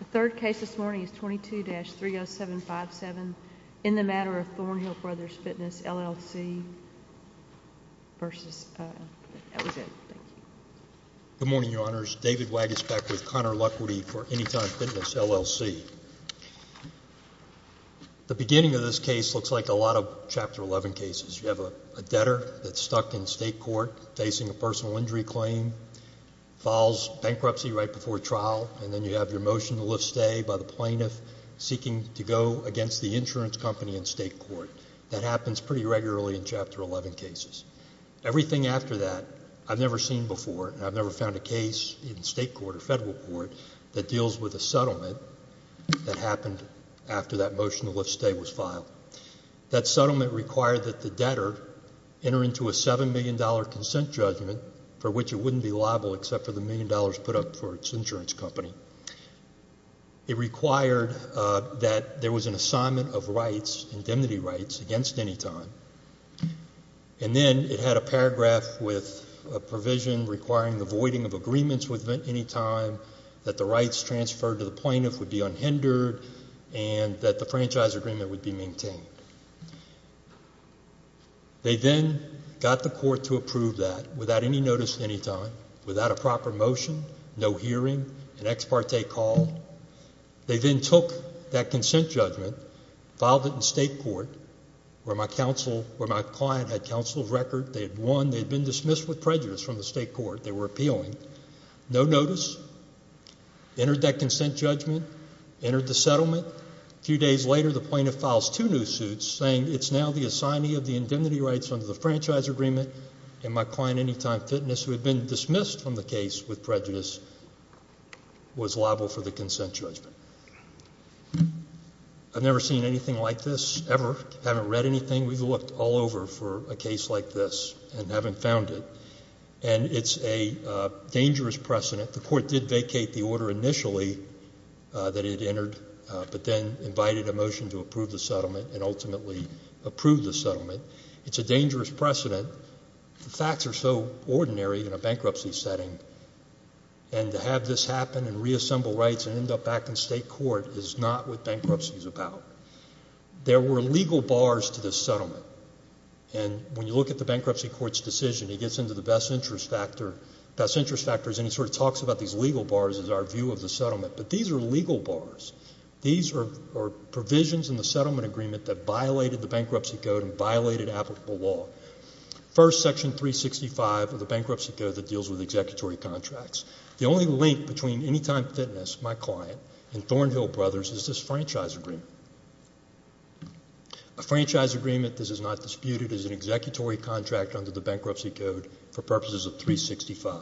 The third case this morning is 22-30757 in the matter of Thornhill Brothers Fitness LLC v. Ellison. Good morning, Your Honors. David Waggis back with Conor Luckworthy for Anytime Fitness, LLC. The beginning of this case looks like a lot of Chapter 11 cases. You have a debtor that's stuck in state court facing a personal injury claim, files bankruptcy right before trial, and then you have your motion to lift stay by the plaintiff seeking to go against the insurance company in state court. That happens pretty regularly in Chapter 11 cases. Everything after that I've never seen before, and I've never found a case in state court or federal court that deals with a settlement that happened after that motion to lift stay was filed. That settlement required that the debtor enter into a $7 million consent judgment for which it wouldn't be liable except for the million dollars put up for its insurance company. It required that there was an assignment of rights, indemnity rights, against Anytime, and then it had a paragraph with a provision requiring the voiding of agreements with Anytime, that the rights transferred to the plaintiff would be unhindered, and that the franchise agreement would be maintained. They then got the court to approve that without any notice to Anytime, without a proper motion, no hearing, an ex parte call. They then took that consent judgment, filed it in state court where my client had counsel of record. They had won. They had been dismissed with prejudice from the state court. They were appealing. No notice. Entered that consent judgment. Entered the settlement. A few days later the plaintiff files two new suits saying it's now the assignee of the indemnity rights under the franchise agreement, and my client Anytime Fitness, who had been dismissed from the case with prejudice, was liable for the consent judgment. I've never seen anything like this ever. I haven't read anything. We've looked all over for a case like this and haven't found it. And it's a dangerous precedent. The court did vacate the order initially that it entered, but then invited a motion to approve the settlement and ultimately approved the settlement. It's a dangerous precedent. The facts are so ordinary in a bankruptcy setting, and to have this happen and reassemble rights and end up back in state court is not what bankruptcy is about. There were legal bars to this settlement. And when you look at the bankruptcy court's decision, it gets into the best interest factors and it sort of talks about these legal bars as our view of the settlement. But these are legal bars. These are provisions in the settlement agreement that violated the bankruptcy code and violated applicable law. First, Section 365 of the bankruptcy code that deals with executory contracts. The only link between Anytime Fitness, my client, and Thornhill Brothers is this franchise agreement. A franchise agreement, this is not disputed, is an executory contract under the bankruptcy code for purposes of 365.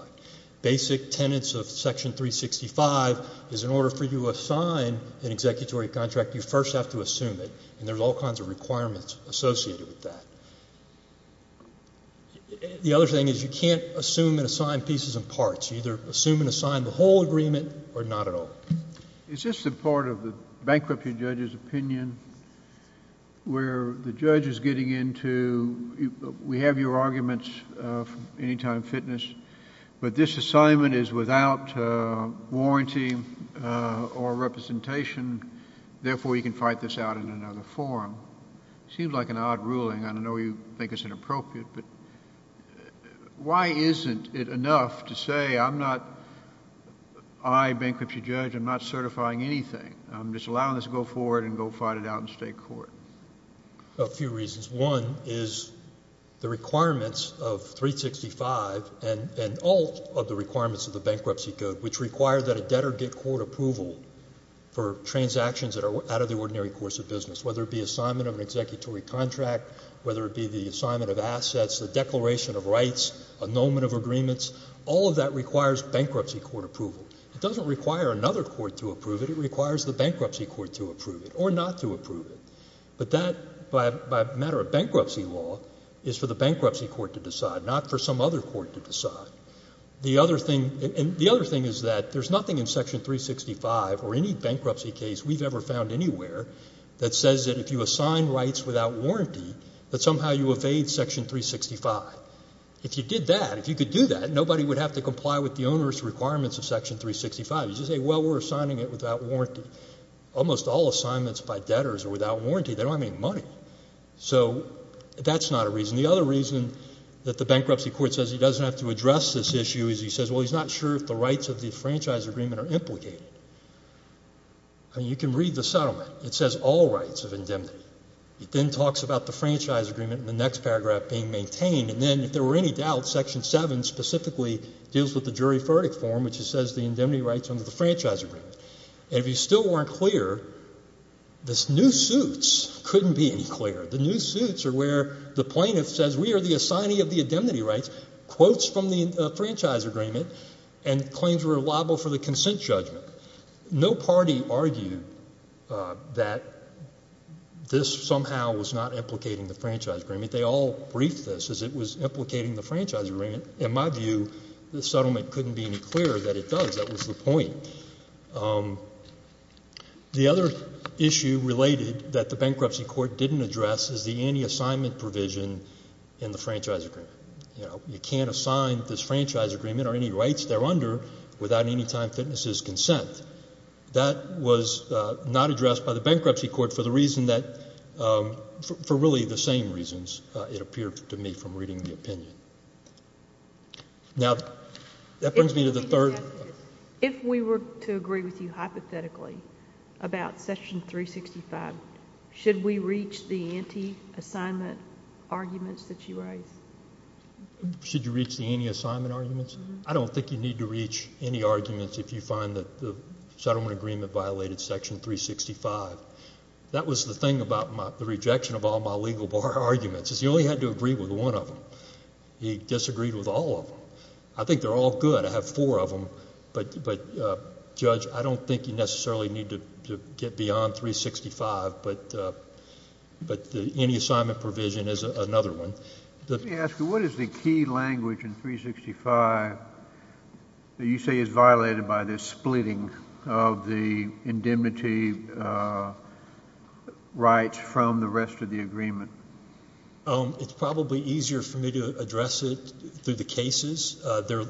Basic tenets of Section 365 is in order for you to assign an executory contract, you first have to assume it, and there's all kinds of requirements associated with that. The other thing is you can't assume and assign pieces and parts. You either assume and assign the whole agreement or not at all. Is this a part of the bankruptcy judge's opinion where the judge is getting into, we have your arguments from Anytime Fitness, but this assignment is without warranty or representation, therefore you can fight this out in another forum. It seems like an odd ruling. I don't know whether you think it's inappropriate, but why isn't it enough to say I'm not, I, a bankruptcy judge, I'm not certifying anything, I'm just allowing this to go forward and go fight it out in state court? A few reasons. One is the requirements of 365 and all of the requirements of the bankruptcy code, which require that a debtor get court approval for transactions that are out of the ordinary course of business, whether it be assignment of an executory contract, whether it be the assignment of assets, the declaration of rights, annulment of agreements, all of that requires bankruptcy court approval. It doesn't require another court to approve it. It requires the bankruptcy court to approve it or not to approve it. But that, by a matter of bankruptcy law, is for the bankruptcy court to decide, not for some other court to decide. The other thing is that there's nothing in Section 365 or any bankruptcy case we've ever found anywhere that says that if you assign rights without warranty that somehow you evade Section 365. If you did that, if you could do that, nobody would have to comply with the onerous requirements of Section 365. You just say, well, we're assigning it without warranty. Almost all assignments by debtors are without warranty. They don't have any money. So that's not a reason. The other reason that the bankruptcy court says he doesn't have to address this issue is he says, well, he's not sure if the rights of the franchise agreement are implicated. I mean, you can read the settlement. It says all rights of indemnity. It then talks about the franchise agreement in the next paragraph being maintained, and then if there were any doubts, Section 7 specifically deals with the jury verdict form, which says the indemnity rights under the franchise agreement. And if you still weren't clear, the new suits couldn't be any clearer. The new suits are where the plaintiff says we are the assignee of the indemnity rights, quotes from the franchise agreement, and claims were liable for the consent judgment. No party argued that this somehow was not implicating the franchise agreement. They all briefed this as it was implicating the franchise agreement. In my view, the settlement couldn't be any clearer that it does. That was the point. The other issue related that the bankruptcy court didn't address is the anti-assignment provision in the franchise agreement. You know, you can't assign this franchise agreement or any rights there under without any time fitness's consent. That was not addressed by the bankruptcy court for the reason that, for really the same reasons, it appeared to me from reading the opinion. Now, that brings me to the third. If we were to agree with you hypothetically about Section 365, should we reach the anti-assignment arguments that you raised? Should you reach the anti-assignment arguments? I don't think you need to reach any arguments if you find that the settlement agreement violated Section 365. That was the thing about the rejection of all my legal bar arguments is you only had to agree with one of them. He disagreed with all of them. I think they're all good. I have four of them. But, Judge, I don't think you necessarily need to get beyond 365, but the anti-assignment provision is another one. Let me ask you, what is the key language in 365 that you say is violated by this splitting of the indemnity rights from the rest of the agreement? It's probably easier for me to address it through the cases. Well, the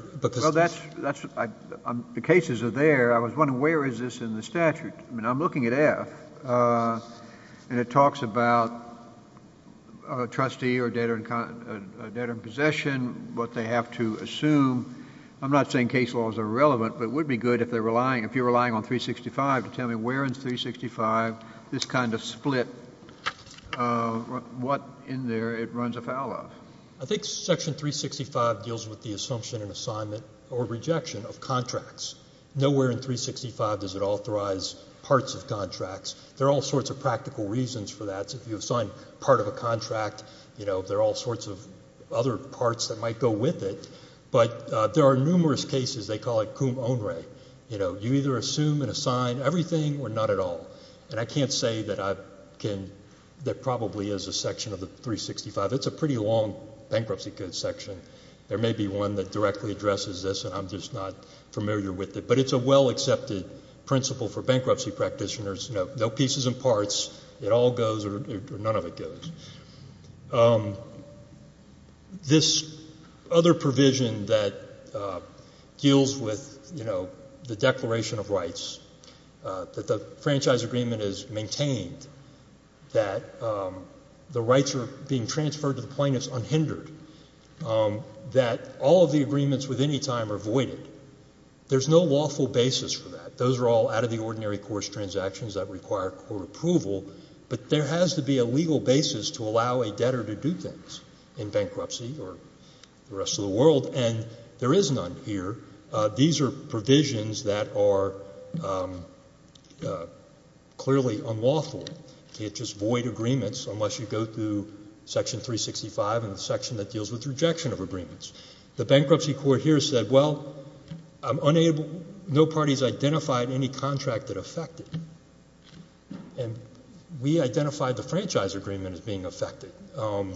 cases are there. I was wondering, where is this in the statute? I mean, I'm looking at F, and it talks about a trustee or a debtor in possession, what they have to assume. I'm not saying case laws are irrelevant, but it would be good if you're relying on 365 to tell me where in 365 this kind of split, what in there it runs afoul of. I think Section 365 deals with the assumption and assignment or rejection of contracts. Nowhere in 365 does it authorize parts of contracts. There are all sorts of practical reasons for that. If you assign part of a contract, there are all sorts of other parts that might go with it. But there are numerous cases. They call it cum onere. You either assume and assign everything or not at all. And I can't say that there probably is a section of the 365. It's a pretty long bankruptcy goods section. There may be one that directly addresses this, and I'm just not familiar with it. But it's a well-accepted principle for bankruptcy practitioners. No pieces and parts. It all goes or none of it goes. This other provision that deals with, you know, the declaration of rights, that the franchise agreement is maintained, that the rights are being transferred to the plaintiffs unhindered, that all of the agreements with any time are voided. There's no lawful basis for that. Those are all out-of-the-ordinary course transactions that require court approval. But there has to be a legal basis to allow a debtor to do things in bankruptcy or the rest of the world. And there is none here. These are provisions that are clearly unlawful. You can't just void agreements unless you go through Section 365 and the section that deals with rejection of agreements. The bankruptcy court here said, well, no party has identified any contract that affected. And we identified the franchise agreement as being affected.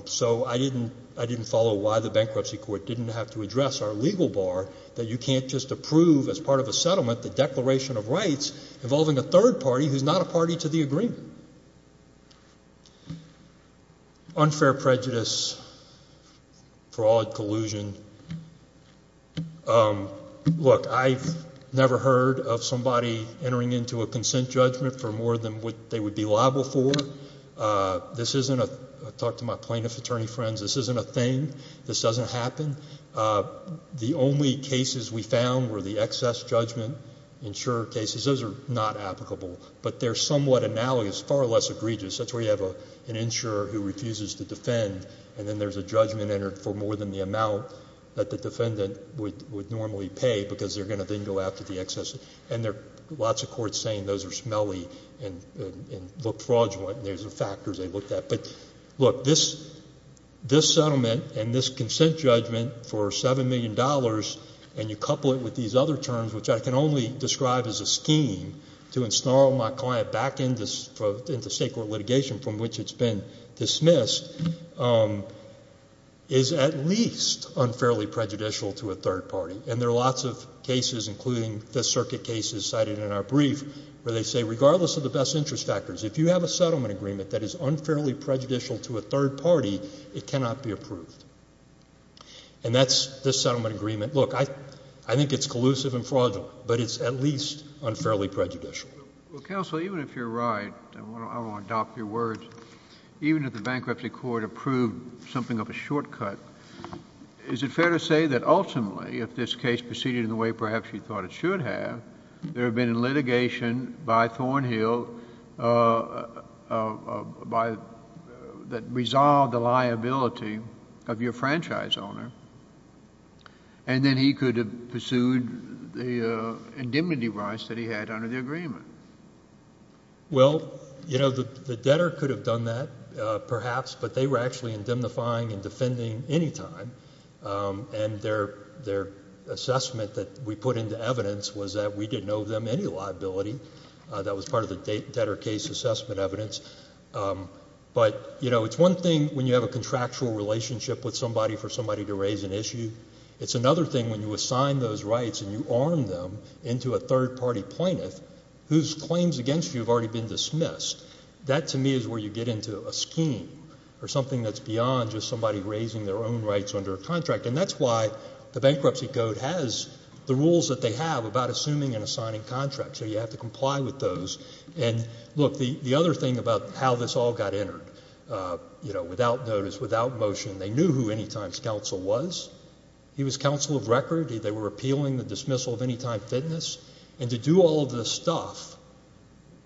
So I didn't follow why the bankruptcy court didn't have to address our legal bar that you can't just approve, as part of a settlement, the declaration of rights involving a third party who's not a party to the agreement. Look, I've never heard of somebody entering into a consent judgment for more than what they would be liable for. I've talked to my plaintiff attorney friends. This isn't a thing. This doesn't happen. The only cases we found were the excess judgment insurer cases. Those are not applicable. But they're somewhat analogous, far less egregious. That's where you have an insurer who refuses to defend, and then there's a judgment entered for more than the amount that the defendant would normally pay, because they're going to then go after the excess. And there are lots of courts saying those are smelly and look fraudulent, and those are factors they looked at. But, look, this settlement and this consent judgment for $7 million, and you couple it with these other terms, which I can only describe as a scheme, to ensnarl my client back into state court litigation from which it's been dismissed, is at least unfairly prejudicial to a third party. And there are lots of cases, including the circuit cases cited in our brief, where they say regardless of the best interest factors, if you have a settlement agreement that is unfairly prejudicial to a third party, it cannot be approved. And that's this settlement agreement. Look, I think it's collusive and fraudulent, but it's at least unfairly prejudicial. Well, counsel, even if you're right, and I want to adopt your words, even if the bankruptcy court approved something of a shortcut, is it fair to say that ultimately if this case proceeded in the way perhaps you thought it should have, there had been litigation by Thornhill that resolved the liability of your franchise owner, and then he could have pursued the indemnity rights that he had under the agreement? Well, you know, the debtor could have done that perhaps, but they were actually indemnifying and defending any time, and their assessment that we put into evidence was that we didn't owe them any liability. That was part of the debtor case assessment evidence. But, you know, it's one thing when you have a contractual relationship with somebody for somebody to raise an issue. It's another thing when you assign those rights and you arm them into a third party plaintiff whose claims against you have already been dismissed. That to me is where you get into a scheme or something that's beyond just somebody raising their own rights under a contract, and that's why the bankruptcy code has the rules that they have about assuming and assigning contracts, so you have to comply with those. And, look, the other thing about how this all got entered, you know, without notice, without motion, they knew who Anytime's counsel was. He was counsel of record. They were appealing the dismissal of Anytime Fitness, and to do all of this stuff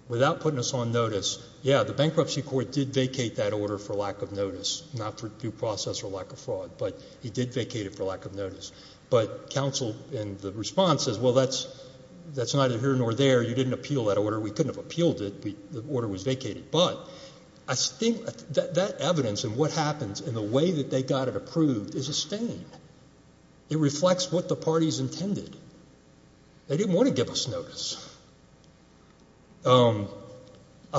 without putting us on notice, yeah, the bankruptcy court did vacate that order for lack of notice, not for due process or lack of fraud, but he did vacate it for lack of notice. But counsel in the response says, well, that's neither here nor there. You didn't appeal that order. We couldn't have appealed it. The order was vacated. But I think that evidence and what happens and the way that they got it approved is a stain. They didn't want to give us notice. I'll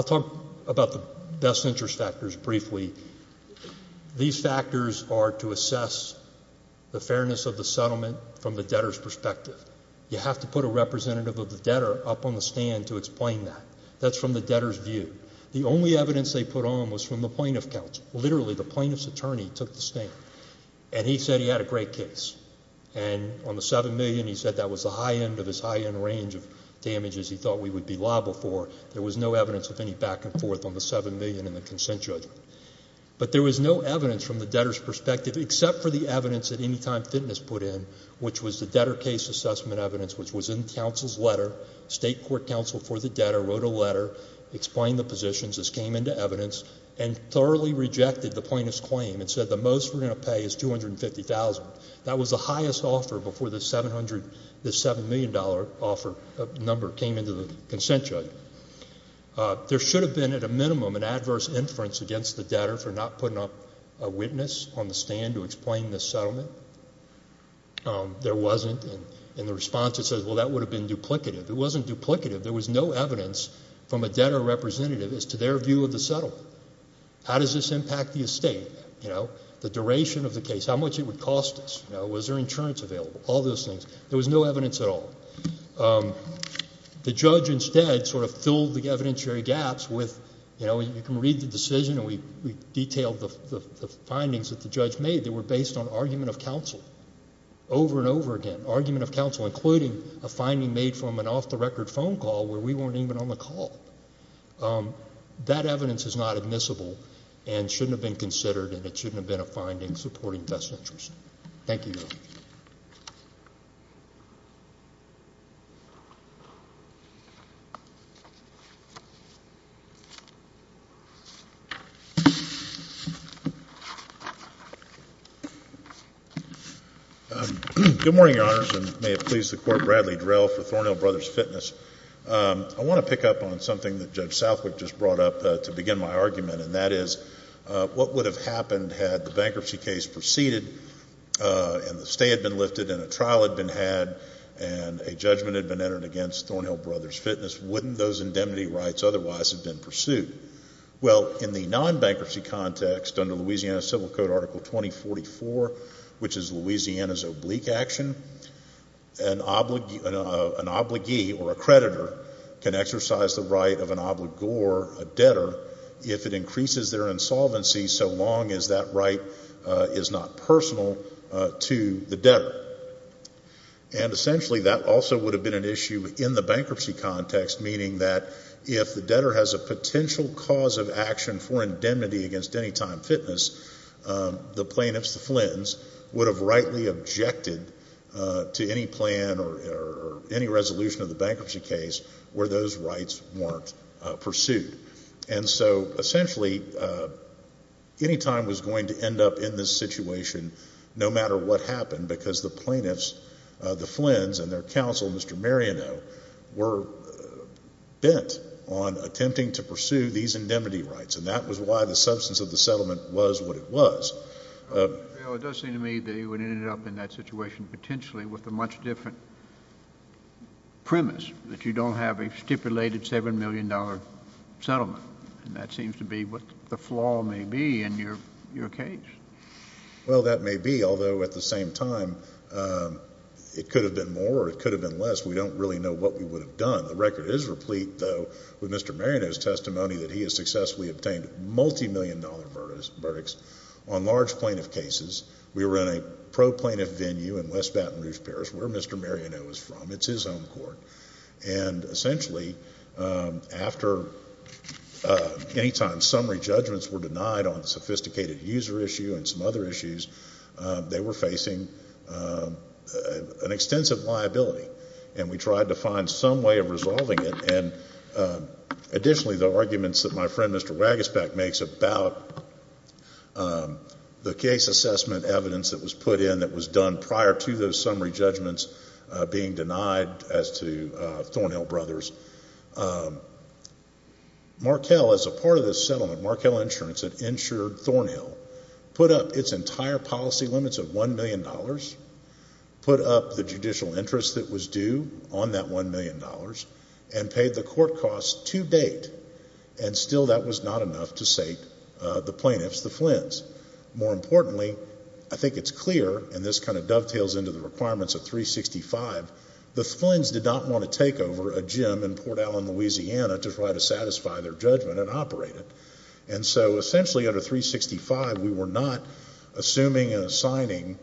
talk about the best interest factors briefly. These factors are to assess the fairness of the settlement from the debtor's perspective. You have to put a representative of the debtor up on the stand to explain that. That's from the debtor's view. The only evidence they put on was from the plaintiff's counsel. Literally, the plaintiff's attorney took the stand, and he said he had a great case, and on the $7 million, he said that was the high end of his high end range of damages he thought we would be liable for. There was no evidence of any back and forth on the $7 million in the consent judgment. But there was no evidence from the debtor's perspective except for the evidence that Anytime Fitness put in, which was the debtor case assessment evidence, which was in counsel's letter. State court counsel for the debtor wrote a letter, explained the positions, this came into evidence, and thoroughly rejected the plaintiff's claim and said the most we're going to pay is $250,000. That was the highest offer before this $7 million offer number came into the consent judgment. There should have been, at a minimum, an adverse inference against the debtor for not putting up a witness on the stand to explain the settlement. There wasn't, and in the response it says, well, that would have been duplicative. It wasn't duplicative. There was no evidence from a debtor representative as to their view of the settlement. How does this impact the estate? You know, the duration of the case, how much it would cost us, was there insurance available, all those things. There was no evidence at all. The judge instead sort of filled the evidentiary gaps with, you know, you can read the decision and we detailed the findings that the judge made that were based on argument of counsel over and over again, argument of counsel including a finding made from an off-the-record phone call where we weren't even on the call. That evidence is not admissible and shouldn't have been considered and it shouldn't have been a finding supporting best interest. Thank you, Your Honor. Good morning, Your Honors, and may it please the Court, Bradley Drell for Thornhill Brothers Fitness. I want to pick up on something that Judge Southwick just brought up to begin my argument, and that is what would have happened had the bankruptcy case proceeded and the stay had been lifted and a trial had been had and a judgment had been entered against Thornhill Brothers Fitness, wouldn't those indemnity rights otherwise have been pursued? Well, in the non-bankruptcy context under Louisiana Civil Code Article 2044, which is Louisiana's oblique action, an obligee or a creditor can exercise the right of an obligor, a debtor, if it increases their insolvency so long as that right is not personal to the debtor. And essentially that also would have been an issue in the bankruptcy context, meaning that if the debtor has a potential cause of action for indemnity against any time fitness, the plaintiffs, the Flins, would have rightly objected to any plan or any resolution of the bankruptcy case where those rights weren't pursued. And so essentially any time was going to end up in this situation no matter what happened because the plaintiffs, the Flins, and their counsel, Mr. Mariano, were bent on attempting to pursue these indemnity rights, and that was why the substance of the settlement was what it was. Well, it does seem to me that you would end up in that situation potentially with a much different premise, that you don't have a stipulated $7 million settlement. And that seems to be what the flaw may be in your case. Well, that may be, although at the same time it could have been more or it could have been less. We don't really know what we would have done. The record is replete, though, with Mr. Mariano's testimony that he has successfully obtained multimillion-dollar verdicts on large plaintiff cases. We were in a pro-plaintiff venue in West Baton Rouge, Paris, where Mr. Mariano is from. It's his home court. And essentially after any time summary judgments were denied on a sophisticated user issue and some other issues, they were facing an extensive liability, and we tried to find some way of resolving it. And additionally, the arguments that my friend, Mr. Wagisback, makes about the case assessment evidence that was put in that was done prior to those summary judgments being denied as to Thornhill Brothers. Markel, as a part of this settlement, Markel Insurance had insured Thornhill, put up its entire policy limits of $1 million, put up the judicial interest that was due on that $1 million, and paid the court costs to date. And still that was not enough to sate the plaintiffs, the Flynns. More importantly, I think it's clear, and this kind of dovetails into the requirements of 365, the Flynns did not want to take over a gym in Port Allen, Louisiana, to try to satisfy their judgment and operate it. And so essentially under 365, we were not assuming and assigning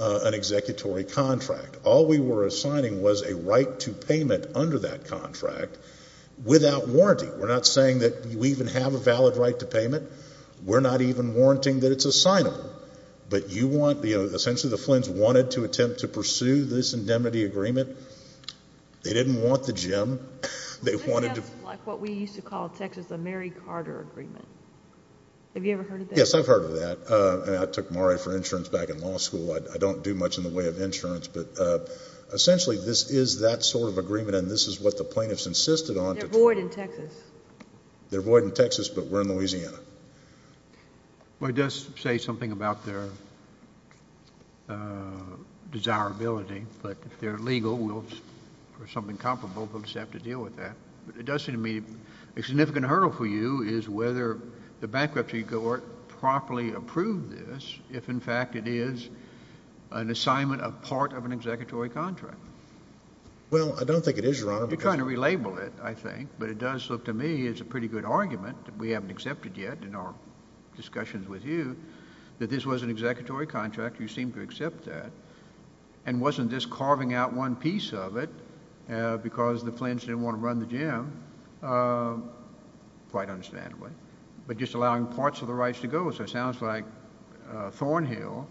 an executory contract. All we were assigning was a right to payment under that contract without warranty. We're not saying that you even have a valid right to payment. We're not even warranting that it's assignable. But you want, you know, essentially the Flynns wanted to attempt to pursue this indemnity agreement. They didn't want the gym. This sounds like what we used to call Texas the Mary Carter Agreement. Have you ever heard of that? Yes, I've heard of that. And I took MARE for insurance back in law school. I don't do much in the way of insurance. But essentially this is that sort of agreement, and this is what the plaintiffs insisted on. They're void in Texas. They're void in Texas, but we're in Louisiana. Well, it does say something about their desirability. But if they're legal or something comparable, we'll just have to deal with that. But it does seem to me a significant hurdle for you is whether the bankruptcy court properly approved this if, in fact, it is an assignment of part of an executory contract. Well, I don't think it is, Your Honor. You're trying to relabel it, I think. But it does look to me as a pretty good argument that we haven't accepted yet in our discussions with you that this was an executory contract. You seem to accept that. And wasn't this carving out one piece of it because the plaintiffs didn't want to run the gym? Quite understandably. But just allowing parts of the rights to go. So it sounds like Thornhill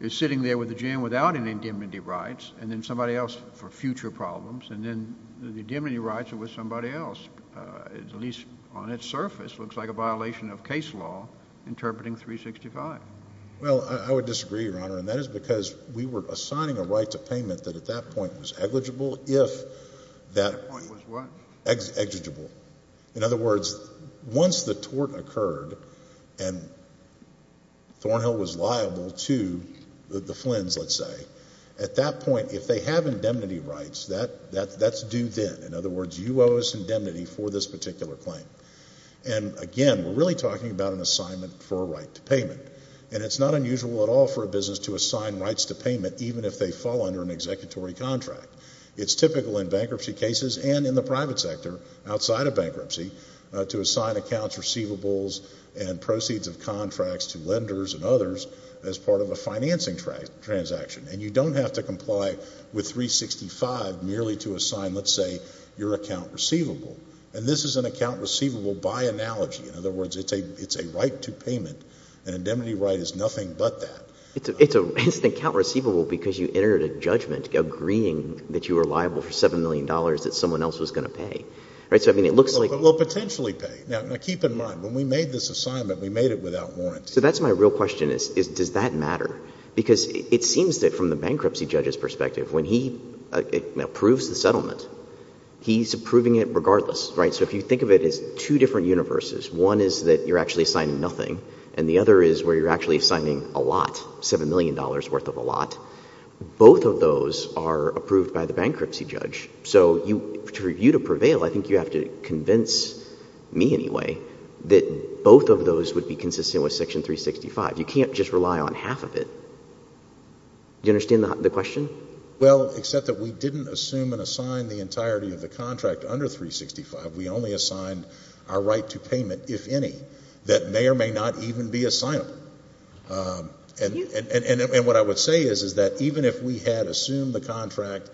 is sitting there with the gym without any indemnity rights and then somebody else for future problems, and then the indemnity rights are with somebody else. At least on its surface, it looks like a violation of case law interpreting 365. Well, I would disagree, Your Honor, and that is because we were assigning a right to payment that at that point was negligible if that point was what? Exigible. In other words, once the tort occurred and Thornhill was liable to the Flins, let's say, at that point, if they have indemnity rights, that's due then. In other words, you owe us indemnity for this particular claim. And, again, we're really talking about an assignment for a right to payment. And it's not unusual at all for a business to assign rights to payment even if they fall under an executory contract. It's typical in bankruptcy cases and in the private sector outside of bankruptcy to assign accounts receivables and proceeds of contracts to lenders and others as part of a financing transaction. And you don't have to comply with 365 merely to assign, let's say, your account receivable. And this is an account receivable by analogy. In other words, it's a right to payment. An indemnity right is nothing but that. It's an account receivable because you entered a judgment agreeing that you were liable for $7 million that someone else was going to pay. Right? So, I mean, it looks like— But we'll potentially pay. Now, keep in mind, when we made this assignment, we made it without warranty. So that's my real question is, does that matter? Because it seems that from the bankruptcy judge's perspective, when he approves the settlement, he's approving it regardless, right? So if you think of it as two different universes, one is that you're actually assigning nothing and the other is where you're actually assigning a lot, $7 million worth of a lot, both of those are approved by the bankruptcy judge. So for you to prevail, I think you have to convince me anyway that both of those would be consistent with Section 365. You can't just rely on half of it. Do you understand the question? Well, except that we didn't assume and assign the entirety of the contract under 365. We only assigned our right to payment, if any, that may or may not even be assignable. And what I would say is that even if we had assumed the contract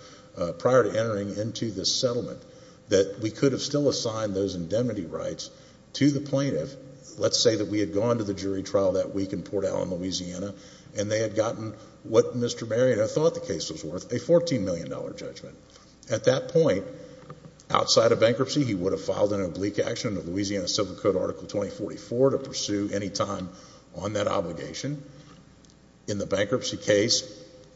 prior to entering into this settlement, that we could have still assigned those indemnity rights to the plaintiff. Let's say that we had gone to the jury trial that week in Port Allen, Louisiana, and they had gotten what Mr. Marion had thought the case was worth, a $14 million judgment. At that point, outside of bankruptcy, he would have filed an oblique action under Louisiana Civil Code Article 2044 to pursue any time on that obligation. In the bankruptcy case,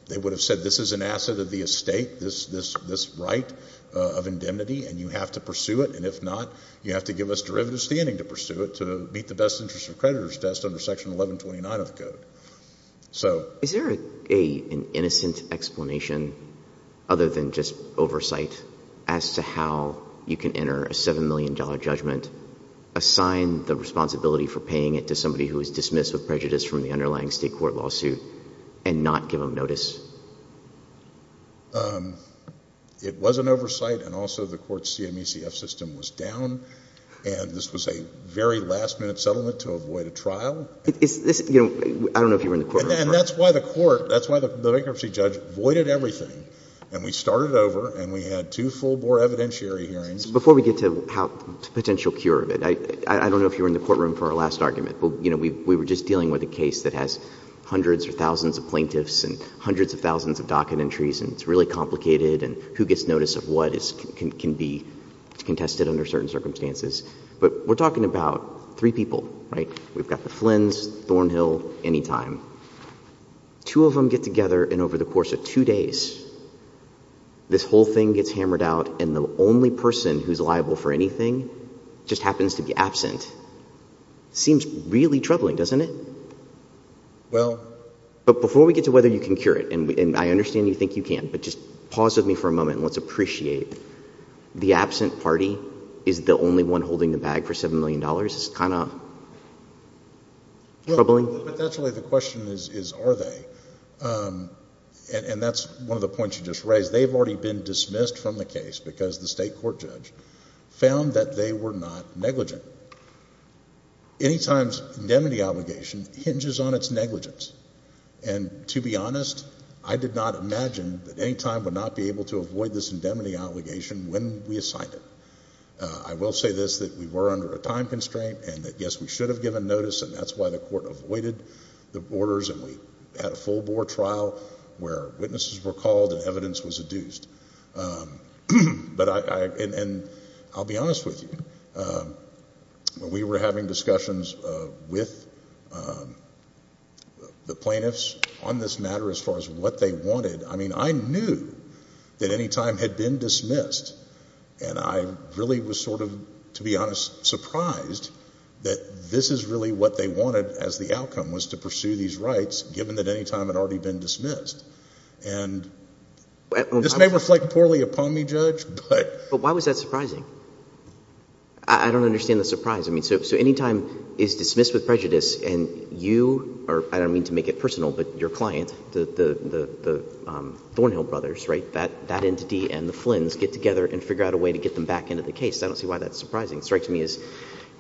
they would have said this is an asset of the estate, this right of indemnity, and you have to pursue it, and if not, you have to give us derivative standing to pursue it to meet the best interest of creditors test under Section 1129 of the code. Is there an innocent explanation other than just oversight as to how you can enter a $7 million judgment, assign the responsibility for paying it to somebody who is dismissed with prejudice from the underlying state court lawsuit, and not give them notice? It was an oversight, and also the court's CMECF system was down, and this was a very last-minute settlement to avoid a trial. I don't know if you were in the courtroom. And that's why the court, that's why the bankruptcy judge voided everything, and we started over, and we had two full-bore evidentiary hearings. Before we get to potential cure of it, I don't know if you were in the courtroom for our last argument, but we were just dealing with a case that has hundreds or thousands of plaintiffs and hundreds of thousands of docket entries, and it's really complicated, and who gets notice of what can be contested under certain circumstances. But we're talking about three people, right? We've got the Flins, Thornhill, any time. Two of them get together, and over the course of two days, this whole thing gets hammered out, and the only person who's liable for anything just happens to be absent. Seems really troubling, doesn't it? Well... But before we get to whether you can cure it, and I understand you think you can, but just pause with me for a moment and let's appreciate. The absent party is the only one holding the bag for $7 million. It's kind of troubling. But that's really the question, is are they? And that's one of the points you just raised. They've already been dismissed from the case because the state court judge found that they were not negligent. Anytime's indemnity obligation hinges on its negligence, and to be honest, I did not imagine that any time would not be able to avoid this indemnity obligation when we assigned it. I will say this, that we were under a time constraint and that, yes, we should have given notice, and that's why the court avoided the orders, and we had a full board trial where witnesses were called and evidence was adduced. But I'll be honest with you. When we were having discussions with the plaintiffs on this matter as far as what they wanted, I mean, I knew that any time had been dismissed, and I really was sort of, to be honest, surprised that this is really what they wanted as the outcome was to pursue these rights, given that any time had already been dismissed. And this may reflect poorly upon me, Judge, but... I don't understand the surprise. I mean, so any time is dismissed with prejudice and you, or I don't mean to make it personal, but your client, the Thornhill brothers, right, that entity and the Flins get together and figure out a way to get them back into the case. I don't see why that's surprising. It strikes me as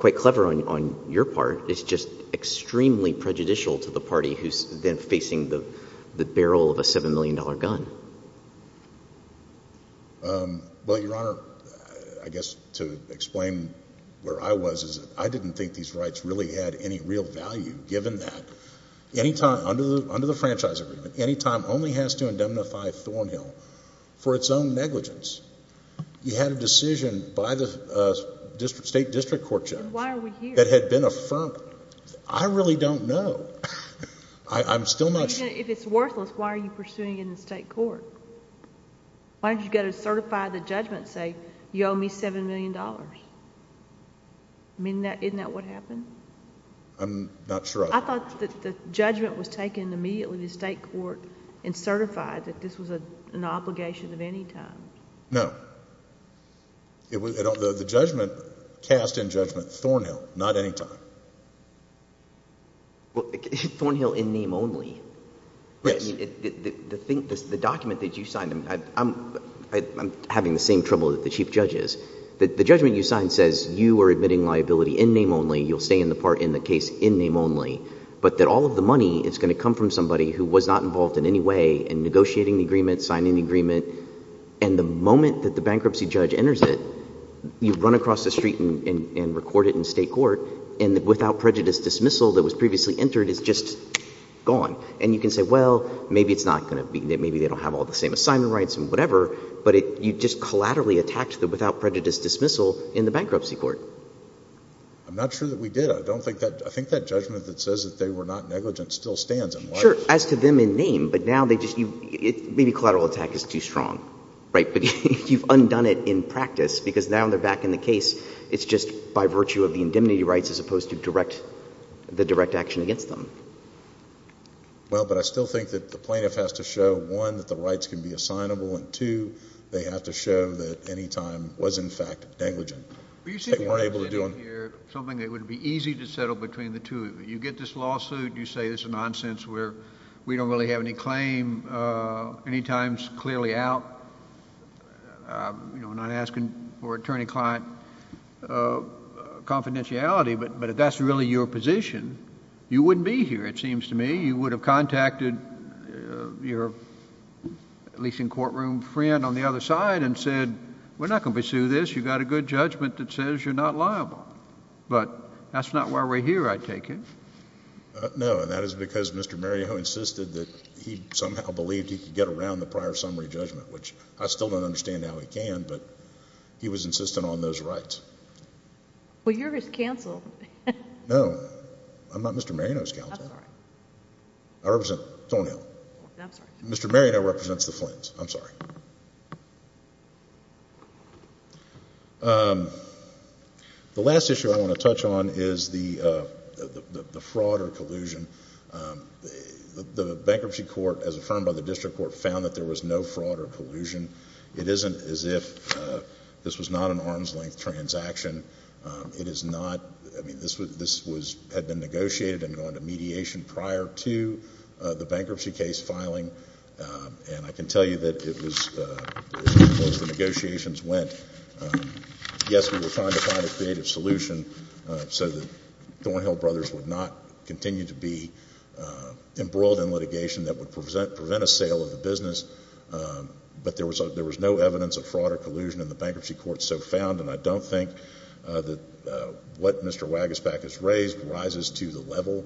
quite clever on your part. It's just extremely prejudicial to the party who's then facing the barrel of a $7 million gun. Well, Your Honor, I guess to explain where I was is I didn't think these rights really had any real value, given that any time under the franchise agreement, any time only has to indemnify Thornhill for its own negligence. You had a decision by the State District Court, Judge, that had been affirmed. And why are we here? I really don't know. I'm still not sure. If it's worthless, why are you pursuing it in the state court? Why don't you go to certify the judgment and say, you owe me $7 million? I mean, isn't that what happened? I'm not sure. I thought that the judgment was taken immediately to the state court and certified that this was an obligation of any kind. No. The judgment cast in judgment Thornhill, not any time. Well, Thornhill in name only. Yes. The document that you signed, I'm having the same trouble that the Chief Judge is. The judgment you signed says you are admitting liability in name only, you'll stay in the case in name only, but that all of the money is going to come from somebody who was not involved in any way in negotiating the agreement, signing the agreement, and the moment that the bankruptcy judge enters it, you run across the street and record it in state court, and the without prejudice dismissal that was previously entered is just gone. And you can say, well, maybe it's not going to be, maybe they don't have all the same assignment rights and whatever, but you just collaterally attacked the without prejudice dismissal in the bankruptcy court. I'm not sure that we did. I think that judgment that says that they were not negligent still stands. Sure, as to them in name, but now they just, maybe collateral attack is too strong. Right, but you've undone it in practice, because now they're back in the case, it's just by virtue of the indemnity rights as opposed to direct, the direct action against them. Well, but I still think that the plaintiff has to show, one, that the rights can be assignable, and two, they have to show that any time was in fact negligent. Were you seeking to get in here something that would be easy to settle between the two of you? You get this lawsuit, you say this is nonsense, where we don't really have any claim, any times clearly out, not asking for attorney-client confidentiality, but if that's really your position, you wouldn't be here, it seems to me. You would have contacted your leasing courtroom friend on the other side and said, we're not going to pursue this, you've got a good judgment that says you're not liable. But that's not why we're here, I take it. No, and that is because Mr. Mariano insisted that he somehow believed he could get around the prior summary judgment, which I still don't understand how he can, but he was insistent on those rights. Well, you're his counsel. No, I'm not Mr. Mariano's counsel. I'm sorry. I represent Thornhill. I'm sorry. Mr. Mariano represents the Flins. I'm sorry. The last issue I want to touch on is the fraud or collusion. The bankruptcy court, as affirmed by the district court, found that there was no fraud or collusion. It isn't as if this was not an arm's-length transaction. It is not. I mean, this had been negotiated and gone to mediation prior to the bankruptcy case filing, and I can tell you that it was as close as the negotiations went. Yes, we were trying to find a creative solution so that Thornhill Brothers would not continue to be embroiled in litigation that would prevent a sale of the business, but there was no evidence of fraud or collusion in the bankruptcy court so found, and I don't think that what Mr. Wagesback has raised rises to the level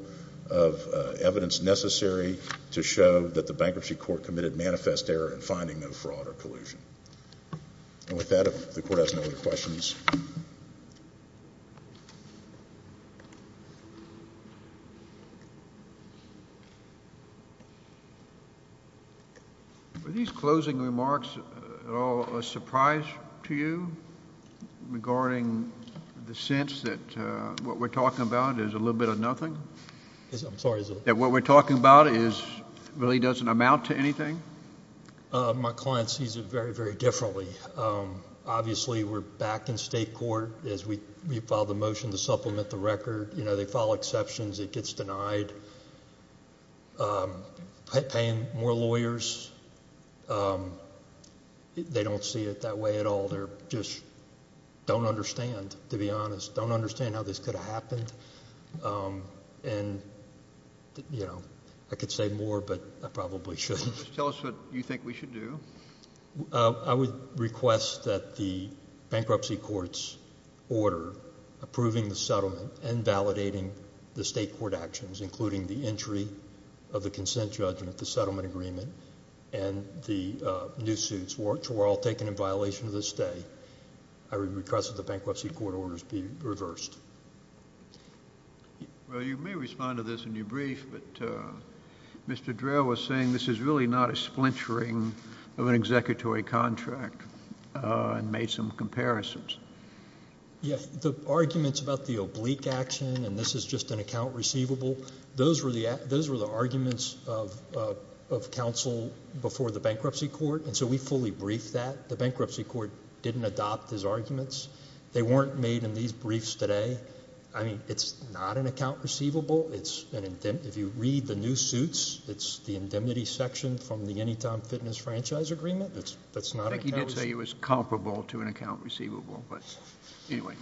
of evidence necessary to show that the bankruptcy court committed manifest error in finding no fraud or collusion. And with that, if the court has no other questions. Were these closing remarks at all a surprise to you regarding the sense that what we're talking about is a little bit of nothing? I'm sorry. That what we're talking about really doesn't amount to anything? My client sees it very, very differently. Obviously, we're back in state court as we file the motion to supplement the record. They file exceptions. It gets denied. Paying more lawyers. They don't see it that way at all. They just don't understand, to be honest, don't understand how this could have happened. And, you know, I could say more, but I probably shouldn't. Tell us what you think we should do. I would request that the bankruptcy court's order approving the settlement and validating the state court actions, including the entry of the consent judgment, the settlement agreement, and the new suits, which were all taken in violation of the stay, I would request that the bankruptcy court orders be reversed. Well, you may respond to this in your brief, but Mr. Drell was saying this is really not a splintering of an executory contract and made some comparisons. Yes. The arguments about the oblique action and this is just an account receivable, those were the arguments of counsel before the bankruptcy court, and so we fully briefed that. The bankruptcy court didn't adopt his arguments. They weren't made in these briefs today. I mean, it's not an account receivable. If you read the new suits, it's the indemnity section from the Anytime Fitness Franchise Agreement. I think he did say it was comparable to an account receivable, but anyway.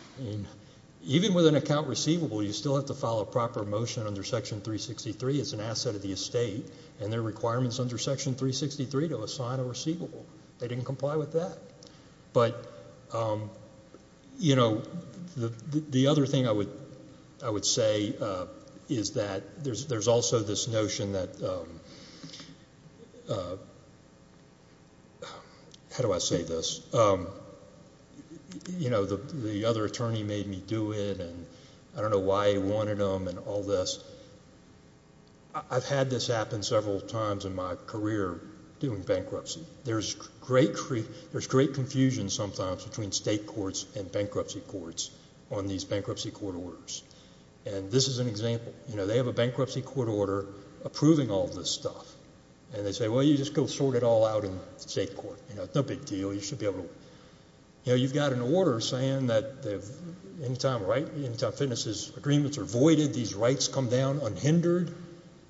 Even with an account receivable, you still have to follow proper motion under Section 363. It's an asset of the estate, and there are requirements under Section 363 to assign a receivable. They didn't comply with that. But, you know, the other thing I would say is that there's also this notion that – how do I say this? You know, the other attorney made me do it, and I don't know why he wanted them and all this. I've had this happen several times in my career doing bankruptcy. There's great confusion sometimes between state courts and bankruptcy courts on these bankruptcy court orders, and this is an example. You know, they have a bankruptcy court order approving all this stuff, and they say, well, you just go sort it all out in the state court. You know, it's no big deal. You should be able to – you know, you've got an order saying that the Anytime Fitness agreements are voided. These rights come down unhindered.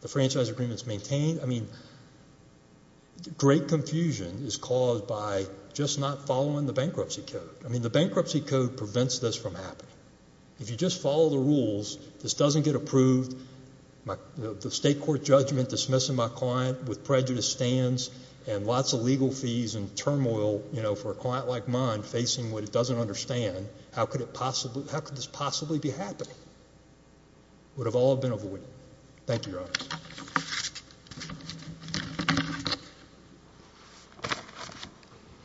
The franchise agreement is maintained. I mean, great confusion is caused by just not following the bankruptcy code. I mean, the bankruptcy code prevents this from happening. If you just follow the rules, this doesn't get approved. The state court judgment dismissing my client with prejudice stands and lots of legal fees and turmoil, you know, for a client like mine facing what it doesn't understand. How could it possibly – how could this possibly be happening? It would have all been avoided. Thank you, Your Honors.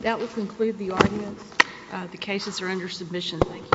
That will conclude the audience. The cases are under submission. Thank you.